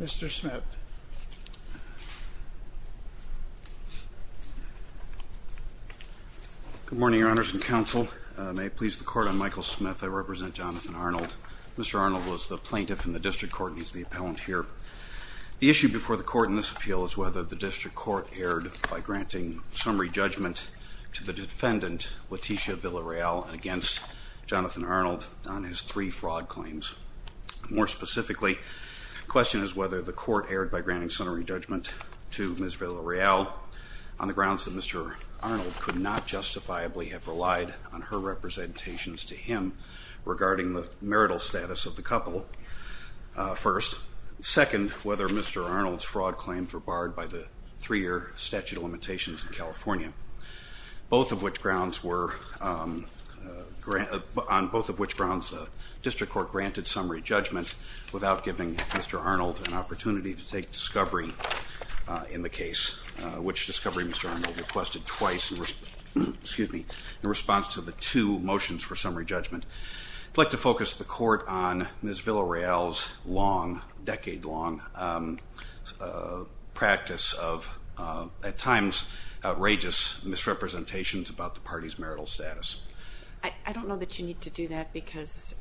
Mr. Smith. Good morning, Your Honors and Counsel. May it please the Court, I'm Michael Smith. I represent Jonathan Arnold. Mr. Arnold was the plaintiff in the District Court and he's the appellant here. The issue before the Court in this appeal is whether the District Court erred by granting summary judgment to the defendant, Leticia Villarreal, against Jonathan Arnold on his three fraud claims. More specifically, the question is whether the Court erred by granting summary judgment to Ms. Villarreal on the grounds that Mr. Arnold could not justifiably have relied on her representations to him regarding the marital status of the couple, first. Second, whether Mr. Arnold's fraud claims were barred by the three-year statute of limitations in California, on both of which grounds the District Court granted summary judgment without giving Mr. Arnold an opportunity to take discovery in the case, which discovery Mr. Arnold requested twice in response to the two motions for summary judgment. I'd like to focus the Court on Ms. Villarreal's decade-long practice of, at times, outrageous misrepresentations about the party's marital status. I don't know that you need to do that because,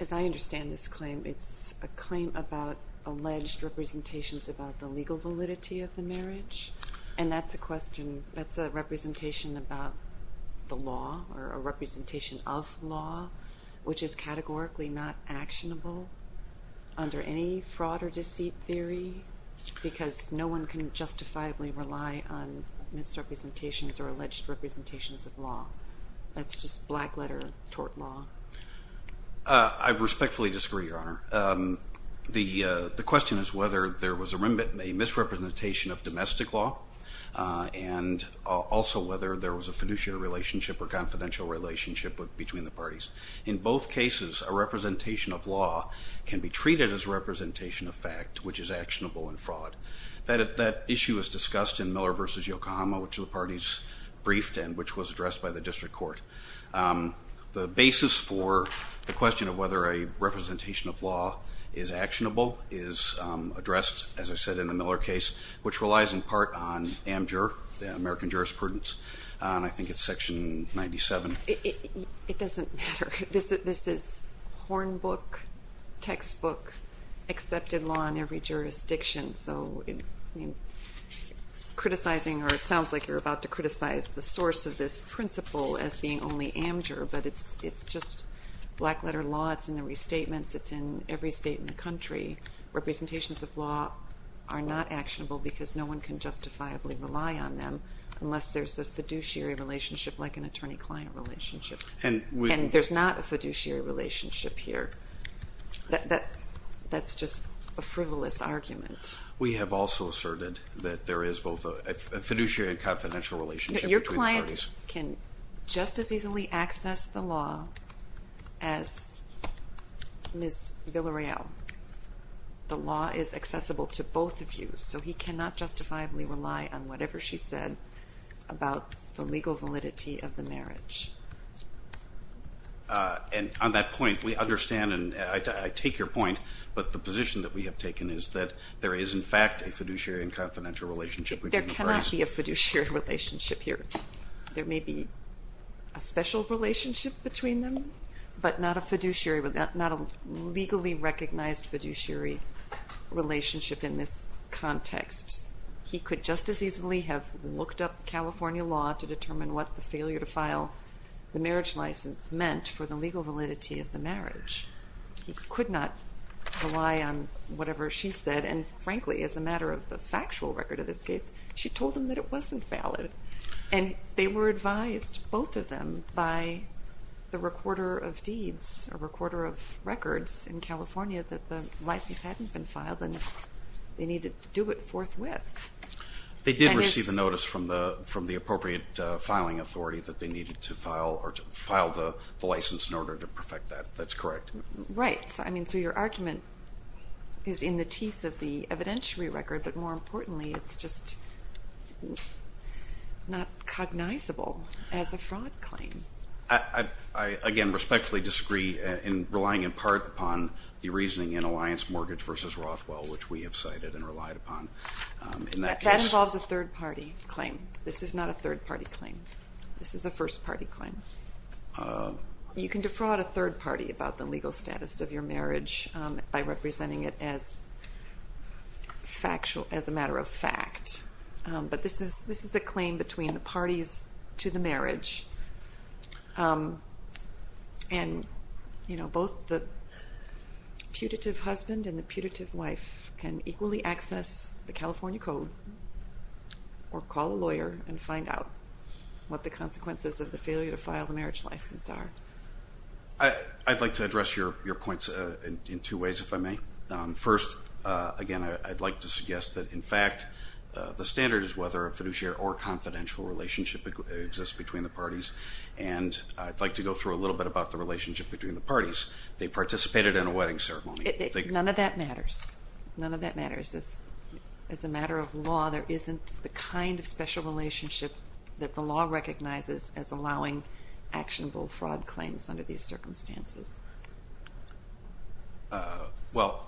as I understand this claim, it's a claim about alleged representations about the legal validity of the marriage. And that's a question, that's a representation about the law or a representation of law, which is categorically not actionable under any fraud or deceit theory because no one can justifiably rely on misrepresentations or alleged representations of law. That's just black-letter tort law. I respectfully disagree, Your Honor. The question is whether there was a misrepresentation of domestic law and also whether there was a fiduciary relationship or confidential relationship between the parties. In both cases, a representation of law can be treated as a representation of fact, which is actionable in fraud. That issue was discussed in Miller v. Yokohama, which the parties briefed and which was addressed by the district court. The basis for the question of whether a representation of law is actionable is addressed, as I said, in the Miller case, which relies in part on AMJUR, the American Jurisprudence, and I think it's Section 97. It doesn't matter. This is hornbook, textbook, accepted law in every jurisdiction. So criticizing, or it sounds like you're about to criticize the source of this principle as being only AMJUR, but it's just black-letter law. It's in the restatements. It's in every state in the country. Representations of law are not actionable because no one can justifiably rely on them unless there's a fiduciary relationship like an attorney-client relationship. And there's not a fiduciary relationship here. That's just a frivolous argument. We have also asserted that there is both a fiduciary and confidential relationship between the parties. Your client can just as easily access the law as Ms. Villareal. The law is accessible to both of you, so he cannot justifiably rely on whatever she said about the legal validity of the marriage. And on that point, we understand, and I take your point, but the position that we have taken is that there is, in fact, a fiduciary and confidential relationship between the parties. There cannot be a fiduciary relationship here. There may be a special relationship between them, but not a legally recognized fiduciary relationship in this context. He could just as easily have looked up California law to determine what the failure to file the marriage license meant for the legal validity of the marriage. He could not rely on whatever she said. And frankly, as a matter of the factual record of this case, she told him that it wasn't valid. And they were advised, both of them, by the recorder of deeds, a recorder of records in California, that the license hadn't been filed and they needed to do it forthwith. They did receive a notice from the appropriate filing authority that they needed to file the license in order to perfect that. That's correct. Right. I mean, so your argument is in the teeth of the evidentiary record, but more importantly, it's just not cognizable as a fraud claim. I, again, respectfully disagree in relying in part upon the reasoning in Alliance Mortgage v. Rothwell, which we have cited and relied upon. That involves a third-party claim. This is not a third-party claim. This is a first-party claim. You can defraud a third party about the legal status of your marriage by representing it as a matter of fact. But this is a claim between the parties to the marriage. And, you know, both the putative husband and the putative wife can equally access the California Code or call a lawyer and find out what the consequences of the failure to file the marriage license are. I'd like to address your points in two ways, if I may. First, again, I'd like to suggest that, in fact, the standard is whether a fiduciary or confidential relationship exists between the parties. And I'd like to go through a little bit about the relationship between the parties. They participated in a wedding ceremony. None of that matters. None of that matters. As a matter of law, there isn't the kind of special relationship that the law recognizes as allowing actionable fraud claims under these circumstances. Well,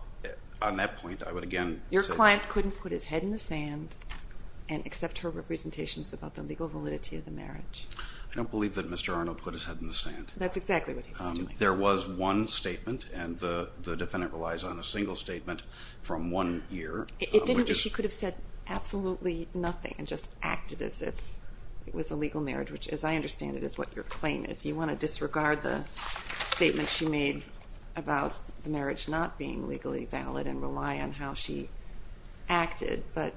on that point, I would again say... Your client couldn't put his head in the sand and accept her representations about the legal validity of the marriage. I don't believe that Mr. Arnold put his head in the sand. That's exactly what he was doing. There was one statement, and the defendant relies on a single statement from one year. She could have said absolutely nothing and just acted as if it was a legal marriage, which, as I understand it, is what your claim is. You want to disregard the statement she made about the marriage not being legally valid and rely on how she acted. But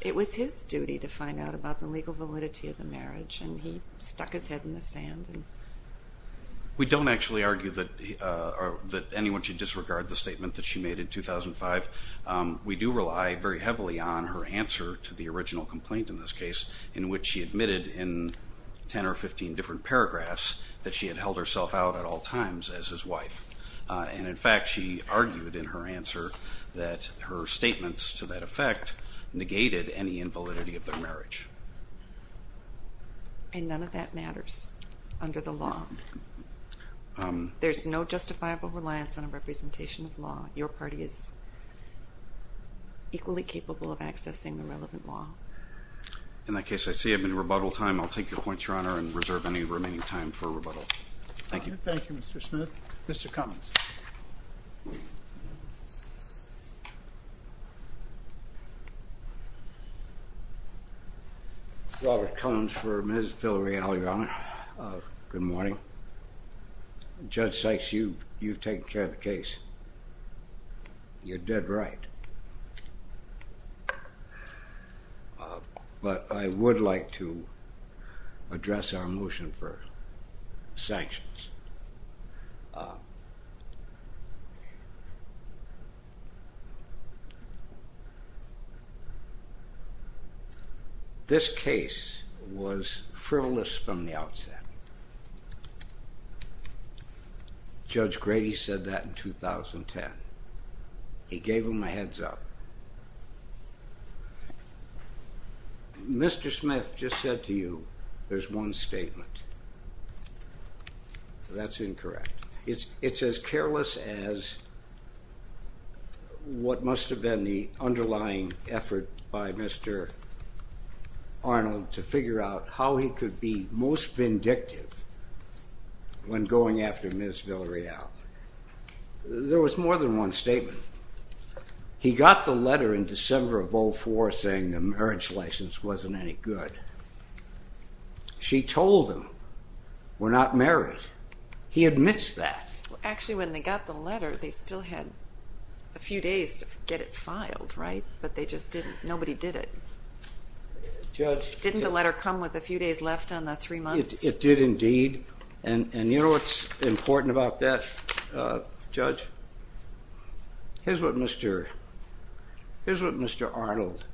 it was his duty to find out about the legal validity of the marriage, and he stuck his head in the sand. We don't actually argue that anyone should disregard the statement that she made in 2005. We do rely very heavily on her answer to the original complaint in this case, in which she admitted in 10 or 15 different paragraphs that she had held herself out at all times as his wife. And, in fact, she argued in her answer that her statements to that effect negated any invalidity of their marriage. And none of that matters under the law. There's no justifiable reliance on a representation of law. Your party is equally capable of accessing the relevant law. In that case, I see I have any rebuttal time. I'll take your points, Your Honor, and reserve any remaining time for rebuttal. Thank you. Thank you, Mr. Smith. Mr. Cummings. Robert Cummings for Ms. Villareal, Your Honor. Good morning. Judge Sykes, you've taken care of the case. You're dead right. But I would like to address our motion for sanctions. This case was frivolous from the outset. Judge Grady said that in 2010. He gave them a heads-up. Mr. Smith just said to you there's one statement. That's incorrect. It's as careless as what must have been the underlying effort by Mr. Arnold to figure out how he could be most vindictive when going after Ms. Villareal. There was more than one statement. He got the letter in December of 2004 saying the marriage license wasn't any good. She told him we're not married. He admits that. Actually, when they got the letter, they still had a few days to get it filed, right? But they just didn't. Nobody did it. Judge. Didn't the letter come with a few days left on the three months? It did indeed. And you know what's important about that, Judge? Here's what Mr. Arnold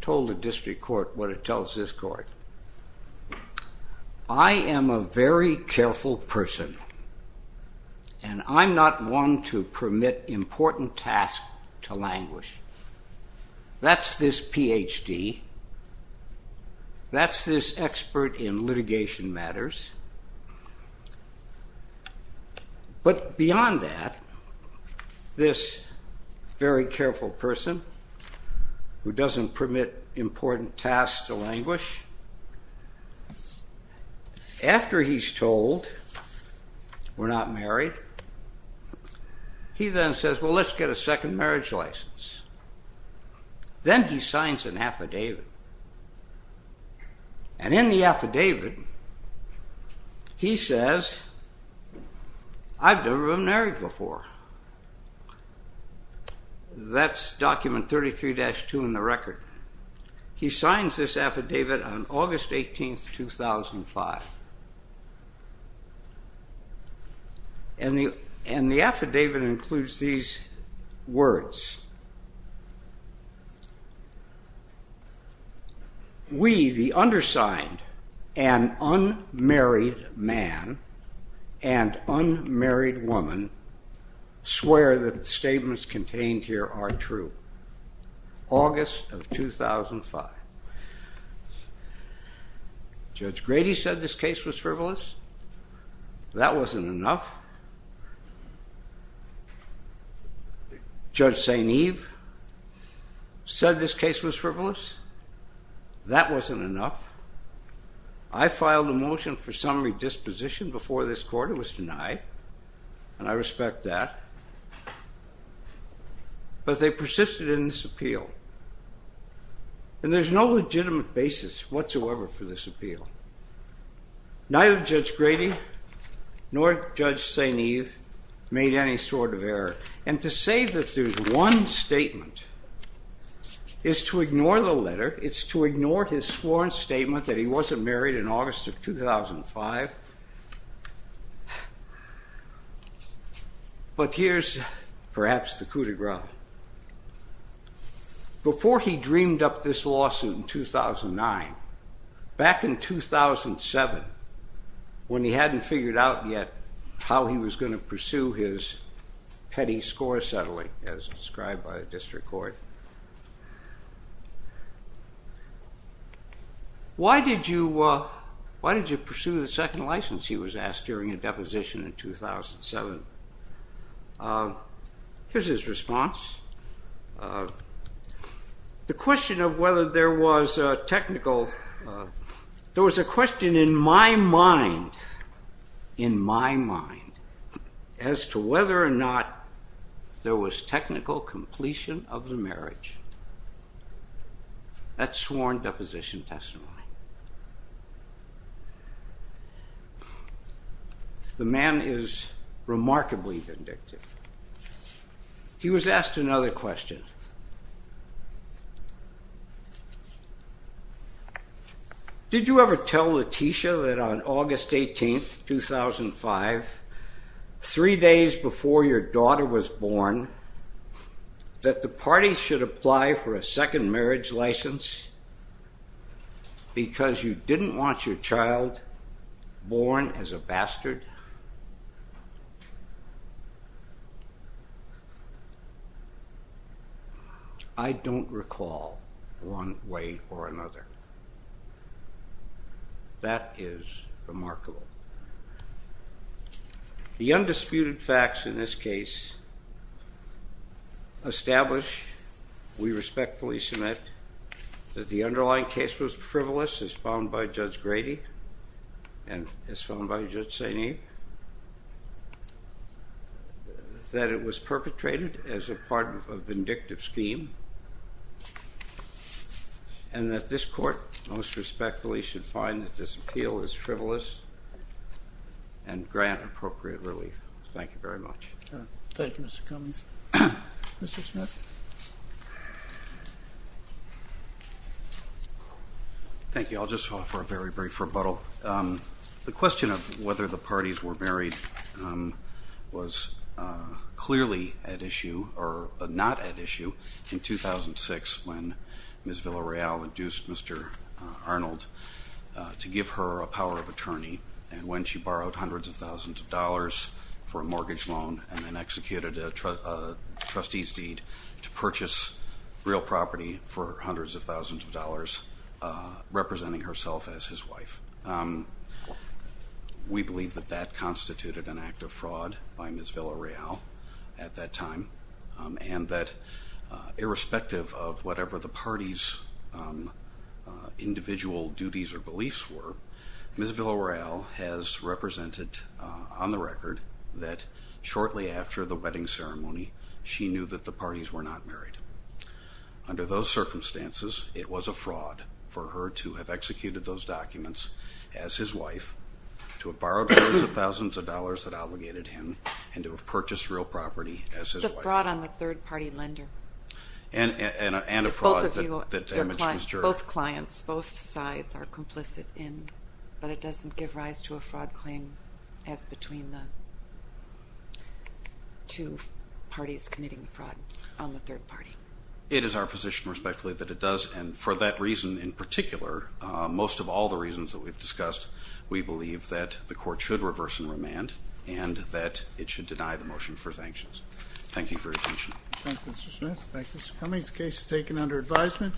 told the district court, what it tells this court. I am a very careful person. And I'm not one to permit important tasks to languish. That's this Ph.D. That's this expert in litigation matters. But beyond that, this very careful person who doesn't permit important tasks to languish, after he's told we're not married, he then says, well, let's get a second marriage license. Then he signs an affidavit. And in the affidavit, he says, I've never been married before. That's document 33-2 in the record. He signs this affidavit on August 18th, 2005. And the affidavit includes these words. We, the undersigned and unmarried man and unmarried woman, swear that the statements contained here are true. August of 2005. Judge Grady said this case was frivolous. That wasn't enough. Judge St. Eve said this case was frivolous. That wasn't enough. I filed a motion for summary disposition before this court. It was denied. And I respect that. But they persisted in this appeal. And there's no legitimate basis whatsoever for this appeal. Neither Judge Grady nor Judge St. Eve made any sort of error. And to say that there's one statement is to ignore the letter. It's to ignore his sworn statement that he wasn't married in August of 2005. But here's perhaps the coup de grace. Before he dreamed up this lawsuit in 2009, back in 2007 when he hadn't figured out yet how he was going to pursue his petty score settling as described by the district court, why did you pursue the second license, he was asked during a deposition in 2007? Here's his response. The question of whether there was a technical... There was a question in my mind, in my mind, as to whether or not there was technical completion of the marriage. That's sworn deposition testimony. The man is remarkably vindictive. He was asked another question. Did you ever tell Letitia that on August 18, 2005, three days before your daughter was born, that the party should apply for a second marriage license because you didn't want your child born as a bastard? I don't recall one way or another. That is remarkable. The undisputed facts in this case establish, we respectfully submit that the underlying case was frivolous as found by Judge Grady and as found by Judge St. Abe, that it was perpetrated as a part of a vindictive scheme and that this court most respectfully should find that this appeal is frivolous and grant appropriate relief. Thank you very much. Thank you, Mr. Cummings. Mr. Smith. Thank you. I'll just offer a very, very brief rebuttal. The question of whether the parties were married was clearly at issue or not at issue in 2006 when Ms. Villareal induced Mr. Arnold to give her a power of attorney, and when she borrowed hundreds of thousands of dollars for a mortgage loan and then executed a trustee's deed to purchase real property for hundreds of thousands of dollars, representing herself as his wife. We believe that that constituted an act of fraud by Ms. Villareal at that time and that irrespective of whatever the parties' individual duties or beliefs were, Ms. Villareal has represented on the record that shortly after the wedding ceremony, she knew that the parties were not married. Under those circumstances, it was a fraud for her to have executed those documents as his wife, to have borrowed hundreds of thousands of dollars that obligated him, and to have purchased real property as his wife. It's a fraud on the third-party lender. And a fraud that damaged his jury. Both clients, both sides are complicit in, but it doesn't give rise to a fraud claim as between the two parties committing the fraud on the third party. It is our position, respectfully, that it does, and for that reason in particular, most of all the reasons that we've discussed, we believe that the court should reverse and remand and that it should deny the motion for sanctions. Thank you for your attention. Thank you, Mr. Smith. Thank you, Mr. Cummings. The case is taken under advisement.